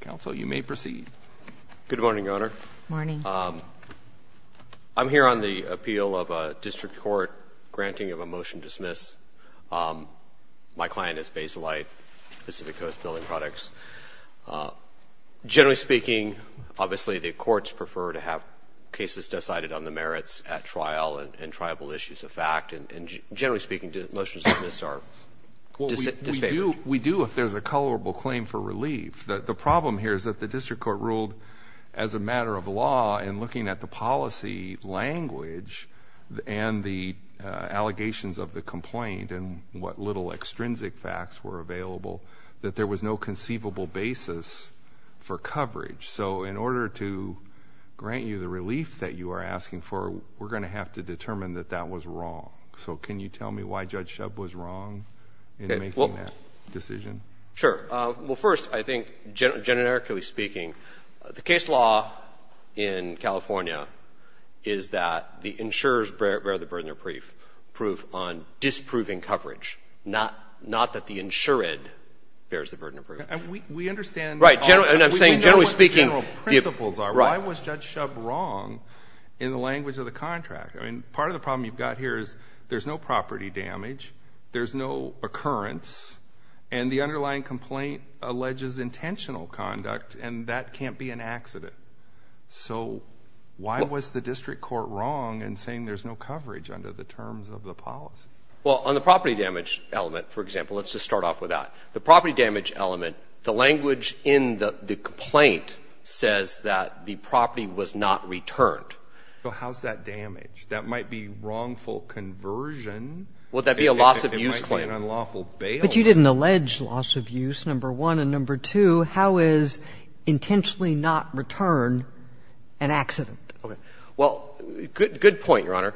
Counsel, you may proceed. Good morning, Your Honor. Morning. I'm here on the appeal of a district court granting of a motion to dismiss. My client is Basalite, Pacific Coast Building Products. Generally speaking, obviously the courts prefer to have cases decided on the merits at trial and tribal issues of fact, and generally speaking, the motions to dismiss are disfavored. We do, if there's a tolerable claim for relief. The problem here is that the district court ruled, as a matter of law, in looking at the policy language and the allegations of the complaint and what little extrinsic facts were available, that there was no conceivable basis for coverage. So in order to grant you the relief that you are asking for, we're gonna have to determine that that was wrong. So can you tell me why Judge Shub was wrong in making that decision? Sure. Well, first, I think, generically speaking, the case law in California is that the insurers bear the burden of proof on disproving coverage, not that the insured bears the burden of proof. We understand that. Right. And I'm saying, generally speaking. We know what the general principles are. Why was Judge Shub wrong in the language of the contract? I mean, part of the problem you've got here is there's no property damage, there's no occurrence, and the underlying complaint alleges intentional conduct, and that can't be an accident. So why was the district court wrong in saying there's no coverage under the terms of the policy? Well, on the property damage element, for example, let's just start off with that. The property damage element, the language in the complaint says that the property was not returned. So how's that damage? That might be wrongful conversion. Would that be a loss-of-use claim? It might be an unlawful bail. But you didn't allege loss-of-use, number one. And number two, how is intentionally not return an accident? Okay. Well, good point, Your Honor.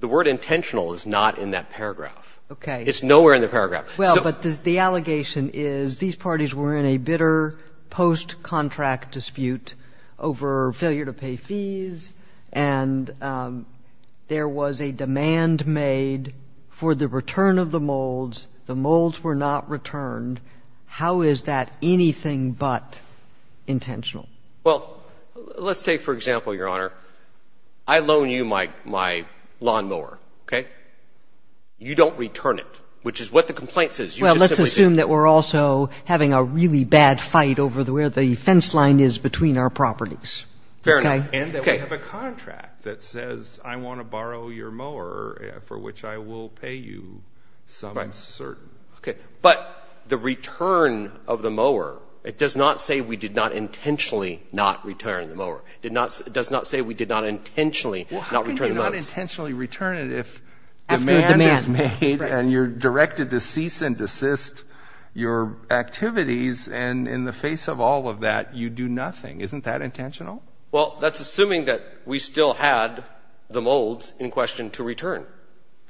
The word intentional is not in that paragraph. Okay. It's nowhere in the paragraph. Well, but the allegation is these parties were in a bitter post-contract dispute over failure to pay fees, and there was a demand made for the return of the molds. The molds were not returned. How is that anything but intentional? Well, let's take, for example, Your Honor, I loan you my lawnmower, okay? You don't return it, which is what the complaint says. You just simply didn't. Well, let's assume that we're also having a really bad fight over where the fence line is between our properties. Fair enough. And that we have a contract that says, I want to borrow your mower for which I will pay you some certain. Right. Okay. But the return of the mower, it does not say we did not intentionally not return the mower. It does not say we did not intentionally not return the molds. Well, how can you not intentionally return it if demand is made and you're directed to cease and desist your activities, and in the face of all of that, you do nothing? Isn't that intentional? Well, that's assuming that we still had the molds in question to return.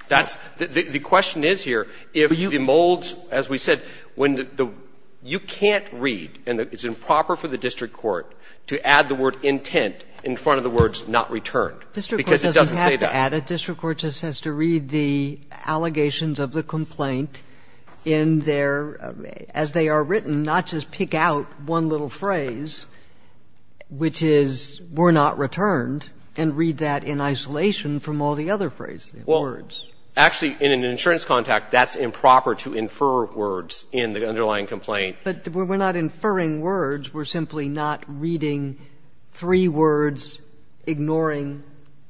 That's the question is here, if the molds, as we said, when the you can't read, and it's improper for the district court to add the word intent in front of the words not returned, because it doesn't say that. And a district court just has to read the allegations of the complaint in their as they are written, not just pick out one little phrase, which is we're not returned, and read that in isolation from all the other phrases, words. Well, actually, in an insurance contact, that's improper to infer words in the underlying complaint. But we're not inferring words. We're simply not reading three words, ignoring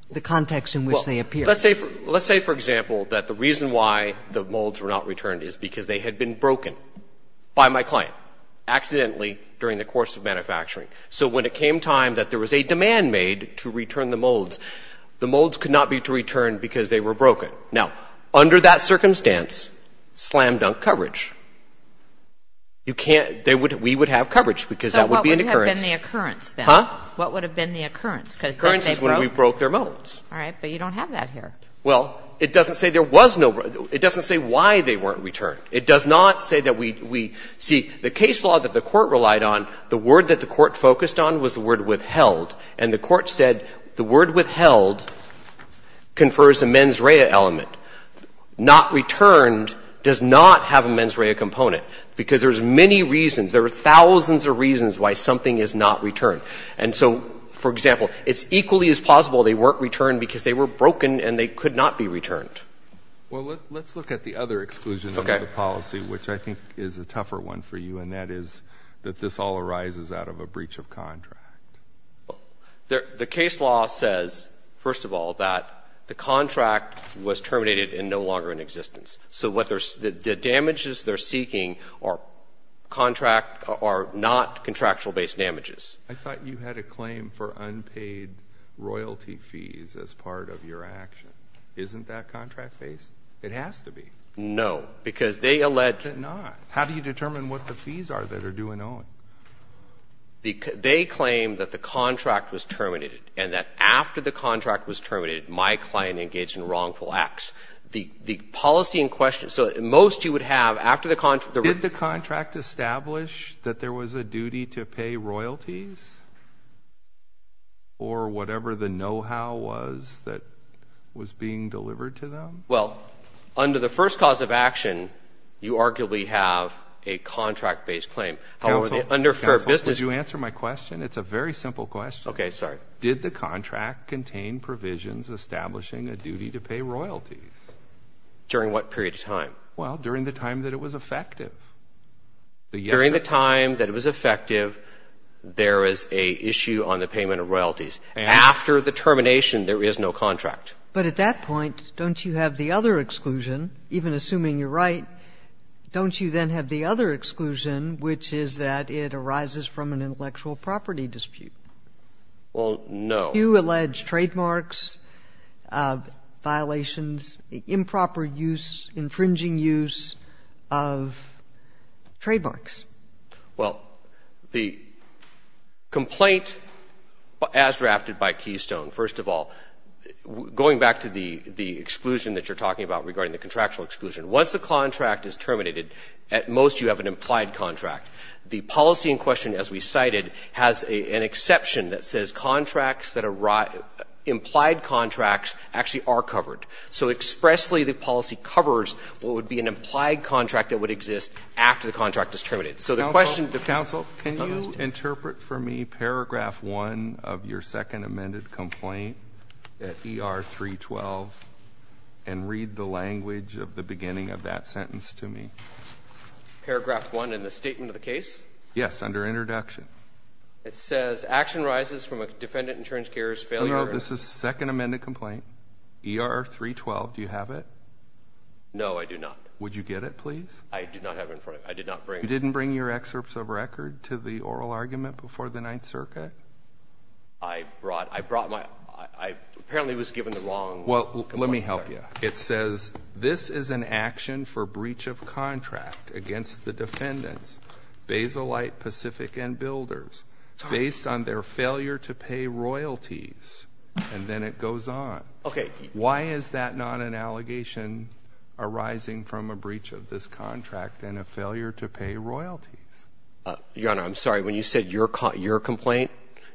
the context in which they appear. Well, let's say, for example, that the reason why the molds were not returned is because they had been broken by my client accidentally during the course of manufacturing. So when it came time that there was a demand made to return the molds, the molds could not be to return because they were broken. Now, under that circumstance, slam-dunk coverage. You can't ‑‑ we would have coverage because that would be an occurrence. So what would have been the occurrence, then? Huh? What would have been the occurrence? Because if they broke ‑‑ Occurrence is when we broke their molds. All right. But you don't have that here. Well, it doesn't say there was no ‑‑ it doesn't say why they weren't returned. It does not say that we ‑‑ see, the case law that the Court relied on, the word that the Court focused on was the word withheld. And the Court said the word withheld confers a mens rea element. Not returned does not have a mens rea component because there's many reasons. There are thousands of reasons why something is not returned. And so, for example, it's equally as possible they weren't returned because they were broken and they could not be returned. Well, let's look at the other exclusion of the policy, which I think is a tougher one for you, and that is that this all arises out of a breach of contract. Well, the case law says, first of all, that the contract was terminated and no longer in existence. So what they're ‑‑ the damages they're seeking are contract ‑‑ are not contractual based damages. I thought you had a claim for unpaid royalty fees as part of your action. Isn't that contract based? It has to be. No. Because they allege ‑‑ It's not. How do you determine what the fees are that are due and owing? They claim that the contract was terminated and that after the contract was terminated, my client engaged in wrongful acts. The policy in question ‑‑ so most you would have, after the contract ‑‑ Did the contract establish that there was a duty to pay royalties? Or whatever the knowhow was that was being delivered to them? Well, under the first cause of action, you arguably have a contract based claim. Counsel? Counsel? Could you answer my question? It's a very simple question. Okay. Sorry. Did the contract contain provisions establishing a duty to pay royalties? During what period of time? Well, during the time that it was effective. During the time that it was effective, there is a issue on the payment of royalties. After the termination, there is no contract. But at that point, don't you have the other exclusion, even assuming you're right, don't you then have the other exclusion, which is that it arises from an intellectual property dispute? Well, no. Do you allege trademarks, violations, improper use, infringing use of trademarks? Well, the complaint as drafted by Keystone, first of all, going back to the exclusion that you're talking about regarding the contractual exclusion, once the contract is terminated, at most you have an implied contract. The policy in question, as we cited, has an exception that says implied contracts actually are covered. So expressly, the policy covers what would be an implied contract that would exist after the contract is terminated. So the question— Counsel? Counsel? Could you interpret for me paragraph one of your second amended complaint at ER 312 and read the language of the beginning of that sentence to me? Paragraph one in the statement of the case? Yes, under introduction. It says, action arises from a defendant-insurance carrier's failure— No, no. This is second amended complaint. ER 312. Do you have it? No, I do not. Would you get it, please? I do not have it in front of me. I did not bring it. Did you refer to the oral argument before the Ninth Circuit? I brought—I brought my—I apparently was given the wrong— Well, let me help you. It says, this is an action for breach of contract against the defendants, Baselight, Pacific and Builders, based on their failure to pay royalties, and then it goes on. Okay. Why is that not an allegation arising from a breach of this contract and a failure to pay royalties? Your Honor, I'm sorry. When you said your complaint,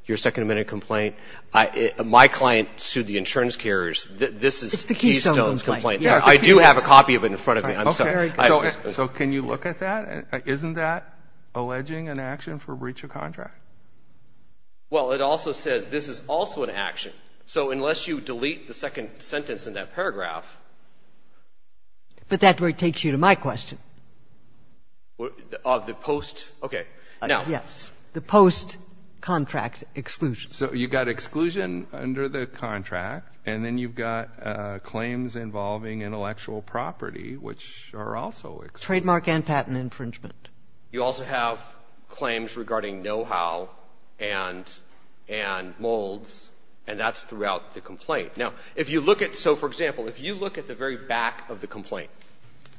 your second amended complaint, my client sued the insurance carriers. This is Keystone's complaint. It's the Keystone complaint. Yes. I do have a copy of it in front of me. I'm sorry. Okay. So can you look at that? Isn't that alleging an action for breach of contract? Well, it also says, this is also an action. So unless you delete the second sentence in that paragraph— But that takes you to my question. Of the post—okay. Now— Yes. The post-contract exclusion. So you've got exclusion under the contract, and then you've got claims involving intellectual property, which are also— Trademark and patent infringement. You also have claims regarding know-how and molds, and that's throughout the complaint. Now, if you look at—so, for example, if you look at the very back of the complaint,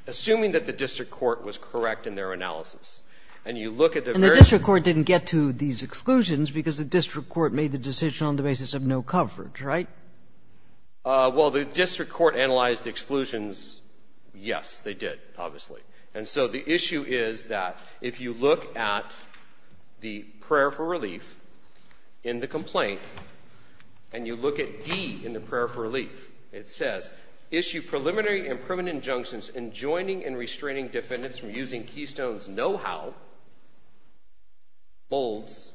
assuming that the district court was correct in their analysis, and you look at the very— And the district court didn't get to these exclusions because the district court made the decision on the basis of no coverage, right? Well, the district court analyzed the exclusions. Yes, they did, obviously. And so the issue is that if you look at the prayer for relief in the complaint, and you look at D in the prayer for relief, it says, issue preliminary and permanent injunctions enjoining and restraining defendants from using Keystone's know-how, molds,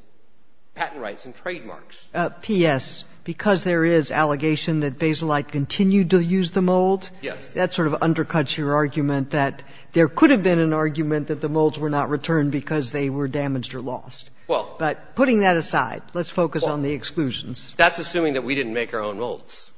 patent rights, and trademarks. P.S., because there is allegation that Baselight continued to use the molds— Yes. That sort of undercuts your argument that there could have been an argument that the molds were not returned because they were damaged or lost. Well— But putting that aside, let's focus on the exclusions. That's assuming that we didn't make our own molds.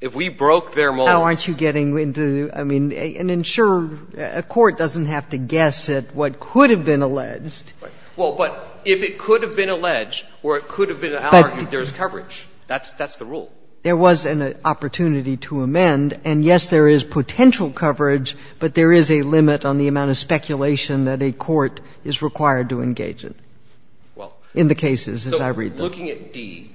If we broke their molds— How aren't you getting into, I mean, and ensure a court doesn't have to guess at what could have been alleged. Right. Well, but if it could have been alleged or it could have been an argument, there is coverage. That's the rule. There was an opportunity to amend. And, yes, there is potential coverage, but there is a limit on the amount of speculation that a court is required to engage in, in the cases as I read them. I'm looking at D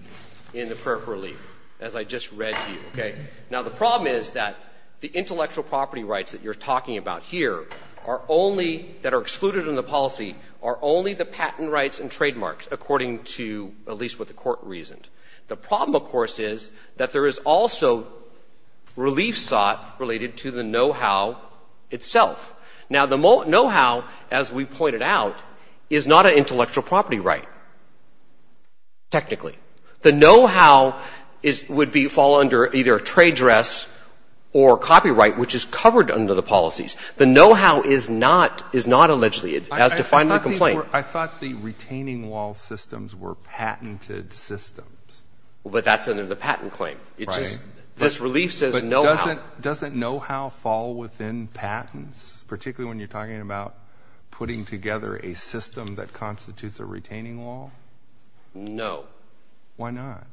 in the prayer for relief, as I just read to you, okay? Now, the problem is that the intellectual property rights that you're talking about here are only, that are excluded in the policy, are only the patent rights and trademarks, according to, at least what the court reasoned. The problem, of course, is that there is also relief sought related to the know-how itself. Now, the know-how, as we pointed out, is not an intellectual property right. Technically. The know-how would fall under either a trade dress or copyright, which is covered under the policies. The know-how is not allegedly, as defined in the complaint. I thought the retaining wall systems were patented systems. Well, but that's under the patent claim. Right. This relief says know-how. But doesn't know-how fall within patents, particularly when you're talking about putting together a system that constitutes a retaining wall? No. Why not?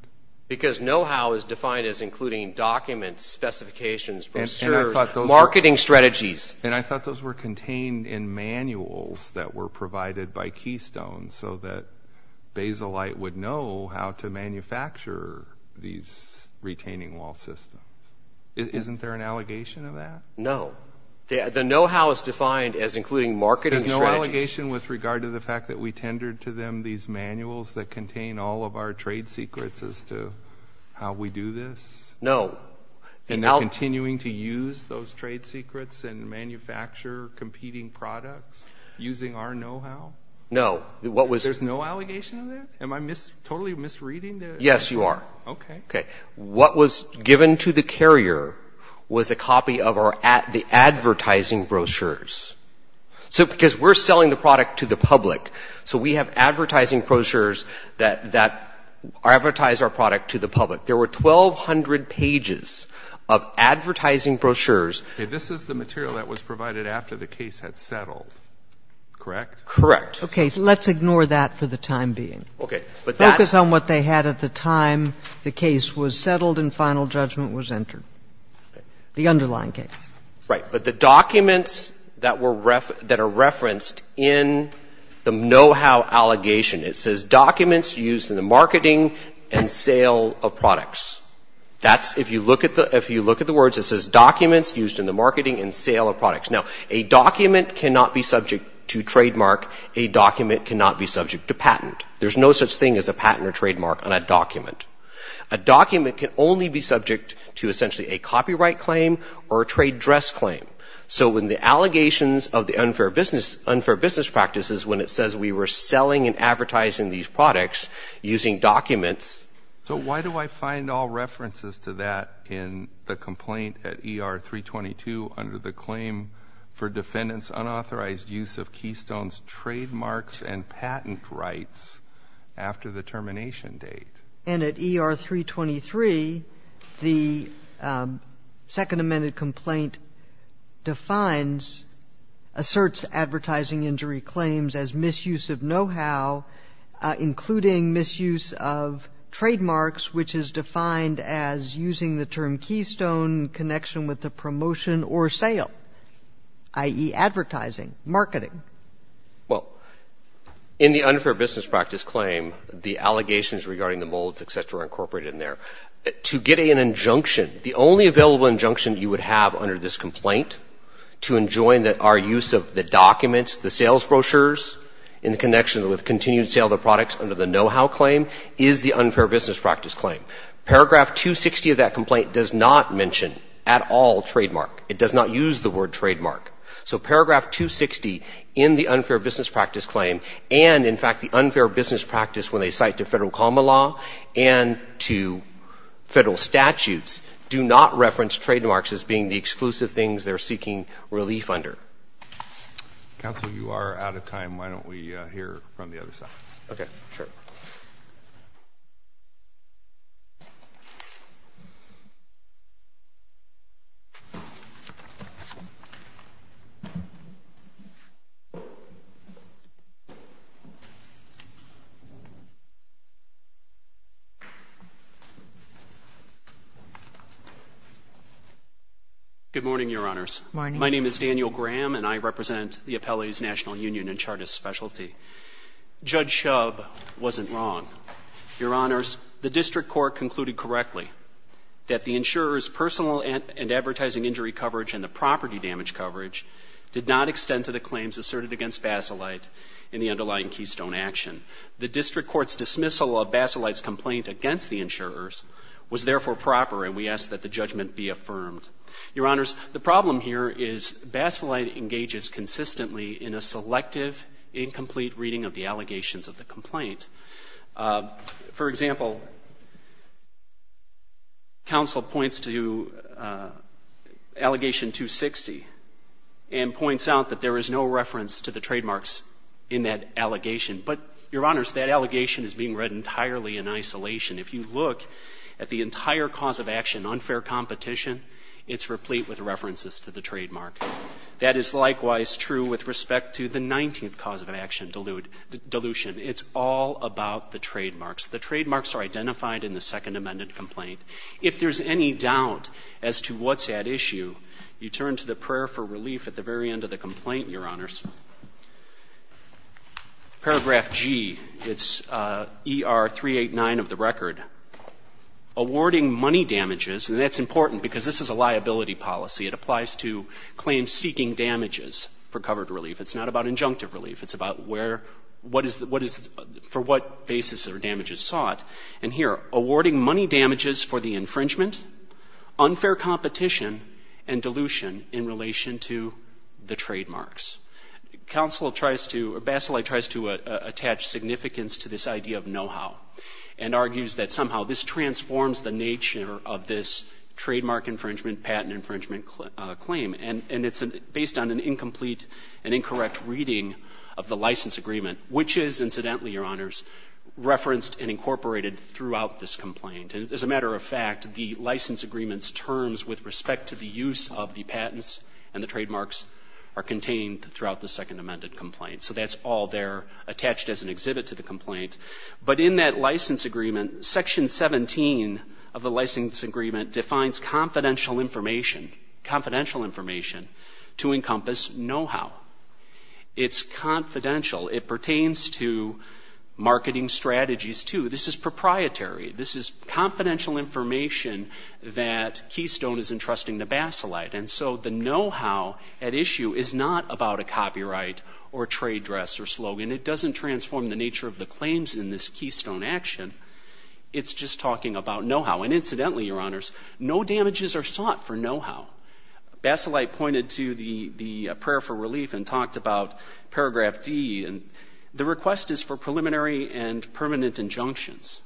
Because know-how is defined as including documents, specifications, brochures, marketing strategies. And I thought those were contained in manuals that were provided by Keystone, so that Baselight would know how to manufacture these retaining wall systems. Isn't there an allegation of that? No. The know-how is defined as including marketing strategies. There's no allegation with regard to the fact that we tendered to them these manuals that contain all of our trade secrets as to how we do this? No. And they're continuing to use those trade secrets and manufacture competing products using our know-how? No. There's no allegation of that? Am I totally misreading this? Yes, you are. Okay. What was given to the carrier was a copy of the advertising brochures. So because we're selling the product to the public, so we have advertising brochures that advertise our product to the public. There were 1,200 pages of advertising brochures. Okay. This is the material that was provided after the case had settled, correct? Correct. Okay. So let's ignore that for the time being. Okay. Focus on what they had at the time the case was settled and final judgment was entered, the underlying case. Right. But the documents that are referenced in the know-how allegation, it says documents used in the marketing and sale of products. If you look at the words, it says documents used in the marketing and sale of products. Now, a document cannot be subject to trademark. A document cannot be subject to patent. There's no such thing as a patent or trademark on a document. A document can only be subject to essentially a copyright claim or a trade dress claim. So when the allegations of the unfair business practices, when it says we were selling and advertising these products using documents. So why do I find all references to that in the complaint at ER-322 under the claim for defendant's unauthorized use of Keystone's trademarks and patent rights after the termination date? And at ER-323, the second amended complaint defines, asserts advertising injury claims as misuse of know-how, including misuse of trademarks, which is defined as using the term Keystone in connection with the promotion or sale, i.e. advertising, marketing. Well, in the unfair business practice claim, the allegations regarding the molds, et cetera, are incorporated in there. To get an injunction, the only available injunction you would have under this complaint to enjoin our use of the documents, the sales brochures, in connection with continued sale of the products under the know-how claim, is the unfair business practice claim. Paragraph 260 of that complaint does not mention at all trademark. It does not use the word trademark. So paragraph 260 in the unfair business practice claim and, in fact, the unfair business practice when they cite to Federal common law and to Federal statutes do not reference trademarks as being the exclusive things they're seeking relief under. Counsel, you are out of time. Why don't we hear from the other side? Okay, sure. Good morning, Your Honors. Good morning. My name is Daniel Graham, and I represent the Appellee's National Union and Chartist Specialty. Judge Shub wasn't wrong. Your Honors, the district court concluded correctly that the insurer's personal and advertising injury coverage and the property damage coverage did not extend to the claims asserted against Basilite in the underlying keystone action. The district court's dismissal of Basilite's complaint against the insurers was therefore proper, and we ask that the judgment be affirmed. Your Honors, the problem here is Basilite engages consistently in a selective, incomplete reading of the allegations of the complaint. For example, counsel points to allegation 260 and points out that there is no reference to the trademarks in that allegation. But, Your Honors, that allegation is being read entirely in isolation. If you look at the entire cause of action, unfair competition, it's replete with references to the trademark. That is likewise true with respect to the 19th cause of action, dilution. It's all about the trademarks. The trademarks are identified in the Second Amendment complaint. If there's any doubt as to what's at issue, you turn to the prayer for relief at the very end of the complaint, Your Honors. Paragraph G, it's ER 389 of the record. Awarding money damages, and that's important because this is a liability policy. It applies to claims seeking damages for covered relief. It's not about injunctive relief. It's about where, what is, for what basis are damages sought. And here, awarding money damages for the infringement, unfair competition, and dilution in relation to the trademarks. Council tries to, or Baselight tries to attach significance to this idea of know-how and argues that somehow this transforms the nature of this trademark infringement, patent infringement claim. And it's based on an incomplete and incorrect reading of the license agreement, which is, incidentally, Your Honors, referenced and incorporated throughout this complaint. And as a matter of fact, the license agreement's terms with respect to the use of the patents and the trademarks are contained throughout the second amended complaint. So that's all there attached as an exhibit to the complaint. But in that license agreement, Section 17 of the license agreement defines confidential information, confidential information to encompass know-how. It's confidential. It pertains to marketing strategies, too. This is proprietary. This is confidential information that Keystone is entrusting to Baselight. And so the know-how at issue is not about a copyright or a trade dress or slogan. It doesn't transform the nature of the claims in this Keystone action. It's just talking about know-how. And incidentally, Your Honors, no damages are sought for know-how. Baselight pointed to the prayer for relief and talked about Paragraph D. The request is for preliminary and permanent injunctions.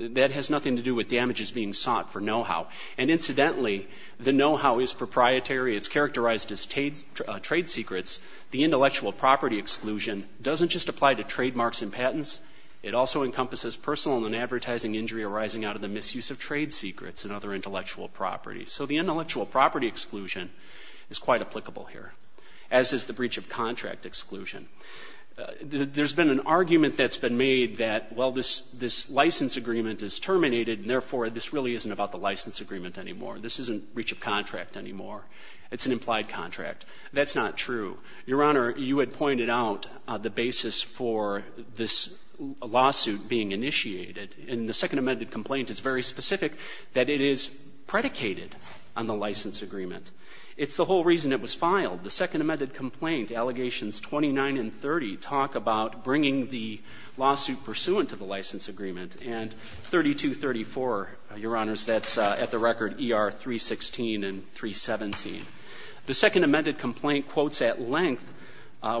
That has nothing to do with damages being sought for know-how. And incidentally, the know-how is proprietary. It's characterized as trade secrets. The intellectual property exclusion doesn't just apply to trademarks and patents. It also encompasses personal and advertising injury arising out of the misuse of trade secrets and other intellectual property. So the intellectual property exclusion is quite applicable here, as is the breach of contract exclusion. There's been an argument that's been made that, well, this license agreement is terminated, and therefore this really isn't about the license agreement anymore. This isn't breach of contract anymore. It's an implied contract. That's not true. Your Honor, you had pointed out the basis for this lawsuit being initiated. And the Second Amended Complaint is very specific that it is predicated on the license agreement. It's the whole reason it was filed. The Second Amended Complaint, Allegations 29 and 30, talk about bringing the lawsuit pursuant to the license agreement. And 3234, Your Honors, that's at the record ER 316 and 317. The Second Amended Complaint quotes at length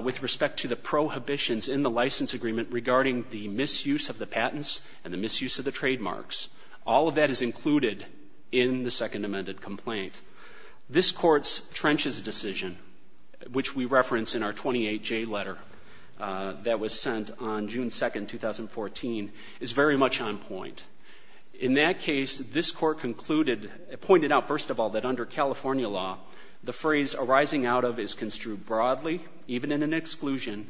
with respect to the prohibitions in the license agreement regarding the misuse of the patents and the misuse of the trademarks. All of that is included in the Second Amended Complaint. This Court's trenches decision, which we reference in our 28J letter that was sent on June 2, 2014, is very much on point. In that case, this Court concluded, pointed out first of all that under California law, the phrase arising out of is construed broadly, even in an exclusion,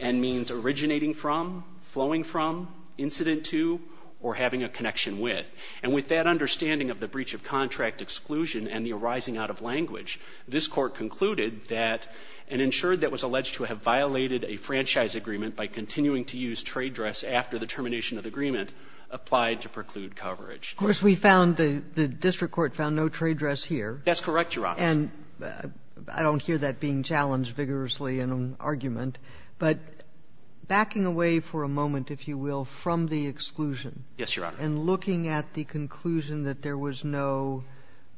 and means originating from, flowing from, incident to, or having a connection with. And with that understanding of the breach of contract exclusion and the arising out of language, this Court concluded that and ensured that it was alleged to have violated a franchise agreement by continuing to use trade dress after the termination of the agreement applied to preclude coverage. Of course, we found the district court found no trade dress here. That's correct, Your Honor. And I don't hear that being challenged vigorously in an argument. But backing away for a moment, if you will, from the exclusion. Yes, Your Honor. And looking at the conclusion that there was no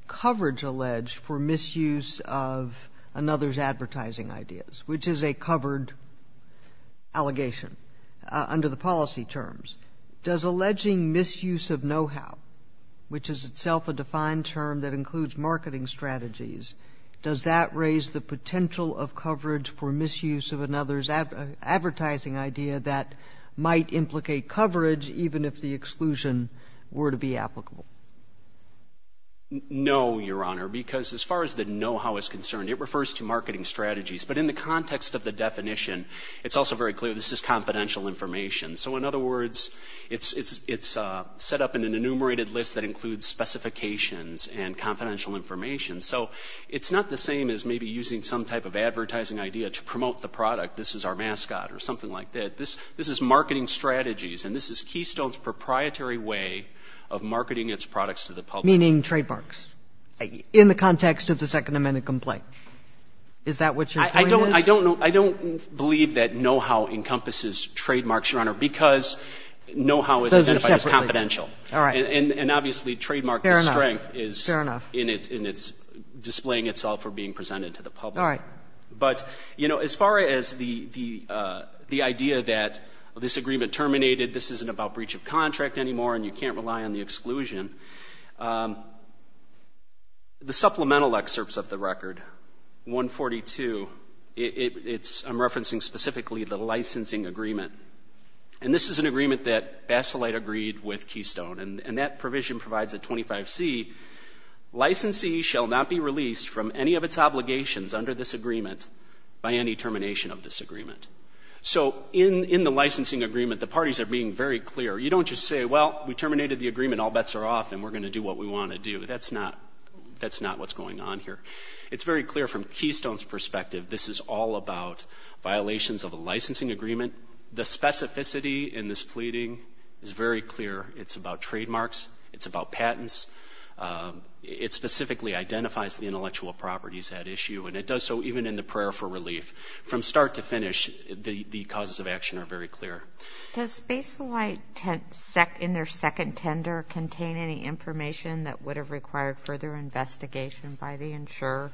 coverage alleged for misuse of another's under the policy terms, does alleging misuse of know-how, which is itself a defined term that includes marketing strategies, does that raise the potential of coverage for misuse of another's advertising idea that might implicate coverage even if the exclusion were to be applicable? No, Your Honor, because as far as the know-how is concerned, it refers to marketing strategies. But in the context of the definition, it's also very clear this is confidential information. So in other words, it's set up in an enumerated list that includes specifications and confidential information. So it's not the same as maybe using some type of advertising idea to promote the product, this is our mascot or something like that. This is marketing strategies, and this is Keystone's proprietary way of marketing its products to the public. Meaning trademarks in the context of the Second Amendment complaint. Is that what your point is? I don't believe that know-how encompasses trademarks, Your Honor, because know-how is identified as confidential. All right. And obviously trademark strength is in its displaying itself or being presented to the public. All right. But, you know, as far as the idea that this agreement terminated, this isn't about breach of contract anymore and you can't rely on the exclusion, the supplemental excerpts of the record, 142, I'm referencing specifically the licensing agreement. And this is an agreement that Baselight agreed with Keystone, and that provision provides a 25C, licensee shall not be released from any of its obligations under this agreement by any termination of this agreement. So in the licensing agreement, the parties are being very clear. You don't just say, well, we terminated the agreement, all bets are off, and we're going to do what we want to do. That's not what's going on here. It's very clear from Keystone's perspective this is all about violations of a licensing agreement. The specificity in this pleading is very clear. It's about trademarks. It's about patents. It specifically identifies the intellectual properties at issue, and it does so even in the prayer for relief. From start to finish, the causes of action are very clear. Does Baselight in their second tender contain any information that would have required further investigation by the insurer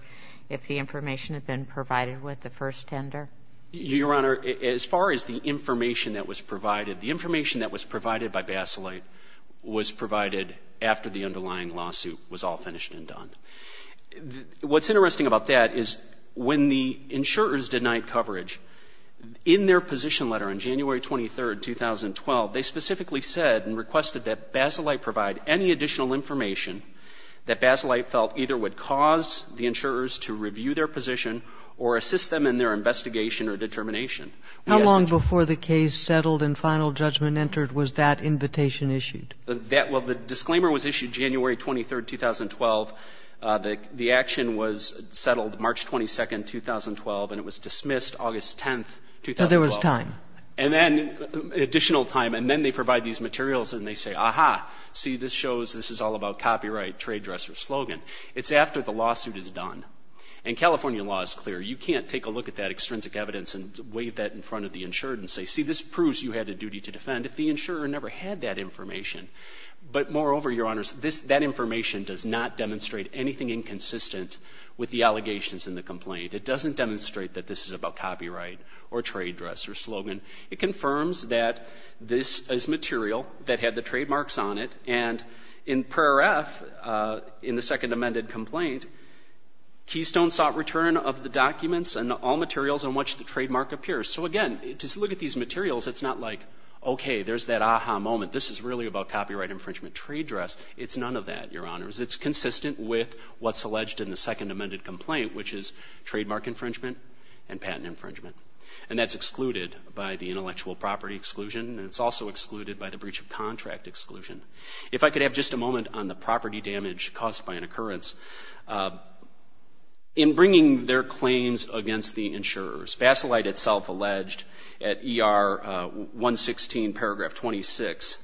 if the information had been provided with the first tender? Your Honor, as far as the information that was provided, the information that was provided by Baselight was provided after the underlying lawsuit was all finished and done. What's interesting about that is when the insurers denied coverage, in their position letter on January 23, 2012, they specifically said and requested that Baselight provide any additional information that Baselight felt either would cause the insurers to review their position or assist them in their investigation or determination. How long before the case settled and final judgment entered was that invitation issued? Well, the disclaimer was issued January 23, 2012. The action was settled March 22, 2012, and it was dismissed August 10, 2012. So there was time. And then additional time. And then they provide these materials, and they say, Aha, see, this shows this is all about copyright, trade dresser, slogan. It's after the lawsuit is done. And California law is clear. You can't take a look at that extrinsic evidence and wave that in front of the insured and say, See, this proves you had a duty to defend if the insurer never had that information. But moreover, Your Honors, that information does not demonstrate anything inconsistent with the allegations in the complaint. It doesn't demonstrate that this is about copyright or trade dresser, slogan. It confirms that this is material that had the trademarks on it. And in Paragraph, in the second amended complaint, Keystone sought return of the documents and all materials on which the trademark appears. So, again, just look at these materials. It's not like, Okay, there's that aha moment. This is really about copyright infringement, trade dress. It's none of that, Your Honors. It's consistent with what's alleged in the second amended complaint, which is trademark infringement and patent infringement. And that's excluded by the intellectual property exclusion, and it's also excluded by the breach of contract exclusion. If I could have just a moment on the property damage caused by an occurrence. In bringing their claims against the insurers, Basilite itself alleged at ER 116, Paragraph 26,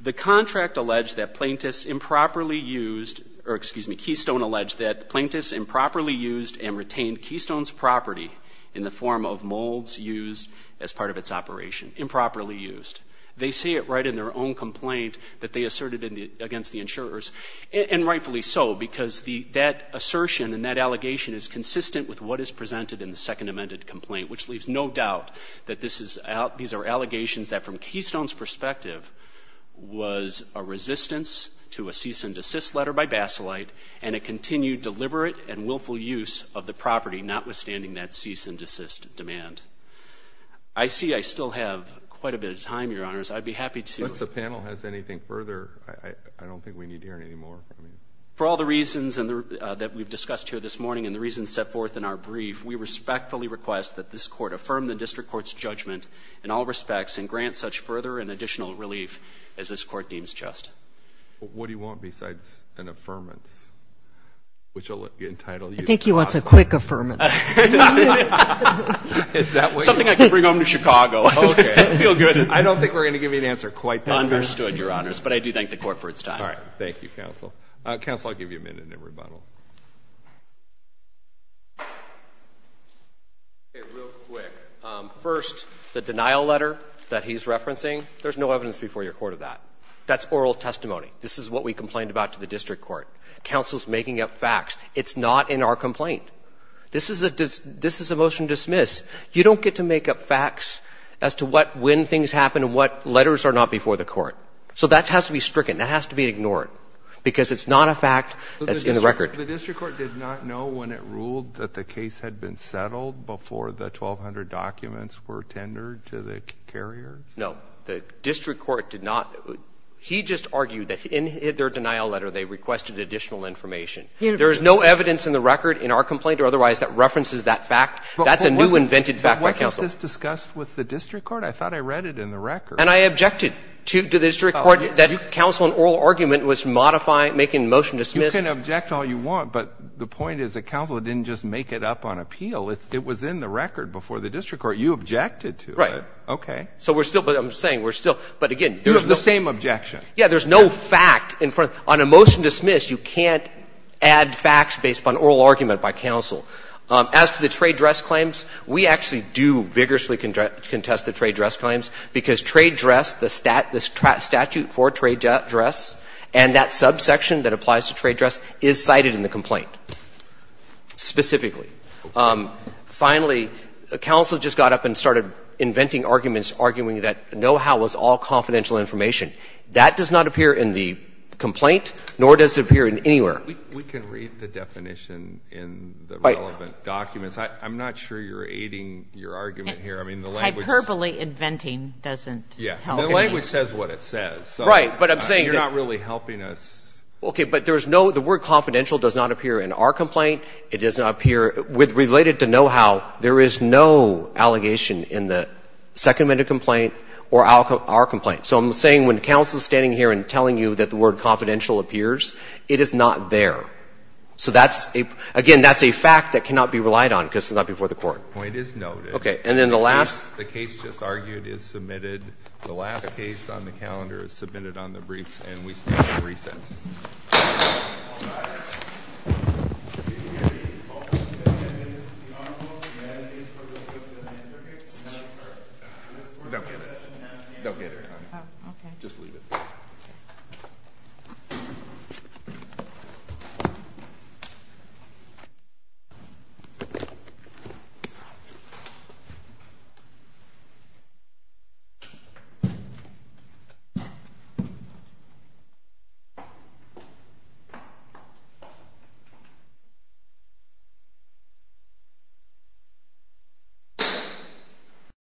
the contract alleged that plaintiffs improperly used, or excuse me, Keystone alleged that plaintiffs improperly used and retained Keystone's property in the form of molds used as part of its operation. Improperly used. They say it right in their own complaint that they asserted against the insurers, and rightfully so because that assertion and that allegation is consistent with what is presented in the second amended complaint, which leaves no doubt that these are allegations that from Keystone's perspective was a resistance to a cease and desist letter by Basilite, and a continued deliberate and willful use of the property, notwithstanding that cease and desist demand. I see I still have quite a bit of time, Your Honors. I'd be happy to. Unless the panel has anything further, I don't think we need to hear any more. For all the reasons that we've discussed here this morning and the reasons set forth in our brief, we respectfully request that this Court affirm the district court's judgment in all respects and grant such further and additional relief as this Court deems just. But what do you want besides an affirmance, which I'll entitle you to? I think he wants a quick affirmance. Is that what you want? Something I can bring home to Chicago. Okay. I feel good. I don't think we're going to give you an answer quite that fast. Understood, Your Honors. But I do thank the Court for its time. All right. Thank you, counsel. Counsel, I'll give you a minute in rebuttal. Real quick. First, the denial letter that he's referencing, there's no evidence before your court of that. That's oral testimony. This is what we complained about to the district court. Counsel's making up facts. It's not in our complaint. This is a motion to dismiss. You don't get to make up facts as to when things happen and what letters are not before the court. So that has to be stricken. That has to be ignored because it's not a fact that's in the record. The district court did not know when it ruled that the case had been settled before the 1,200 documents were tendered to the carriers? No. The district court did not. He just argued that in their denial letter they requested additional information. There is no evidence in the record in our complaint or otherwise that references that fact. That's a new invented fact by counsel. But wasn't this discussed with the district court? I thought I read it in the record. And I objected to the district court that counsel, an oral argument was modifying, making a motion to dismiss. You can object all you want. But the point is that counsel didn't just make it up on appeal. It was in the record before the district court. You objected to it. Right. Okay. So we're still going to be saying we're still. But, again, there's no. It was the same objection. Yeah. There's no fact in front. On a motion to dismiss, you can't add facts based upon oral argument by counsel. As to the trade dress claims, we actually do vigorously contest the trade dress claims because trade dress, the statute for trade dress and that subsection that applies to trade dress is cited in the complaint specifically. Finally, counsel just got up and started inventing arguments, arguing that know-how was all confidential information. That does not appear in the complaint, nor does it appear in anywhere. We can read the definition in the relevant documents. I'm not sure you're aiding your argument here. I mean, the language. Hyperbole inventing doesn't help. Yeah. The language says what it says. Right. But I'm saying that. It's not really helping us. Okay. But there's no. The word confidential does not appear in our complaint. It does not appear. With related to know-how, there is no allegation in the Second Amendment complaint or our complaint. So I'm saying when counsel is standing here and telling you that the word confidential appears, it is not there. So that's a, again, that's a fact that cannot be relied on because it's not before the Court. The point is noted. Okay. And then the last. The case just argued is submitted. The last case on the calendar is submitted on the briefs, and we stand at recess. All rise. Okay. Just leave it. Okay. Okay. Good.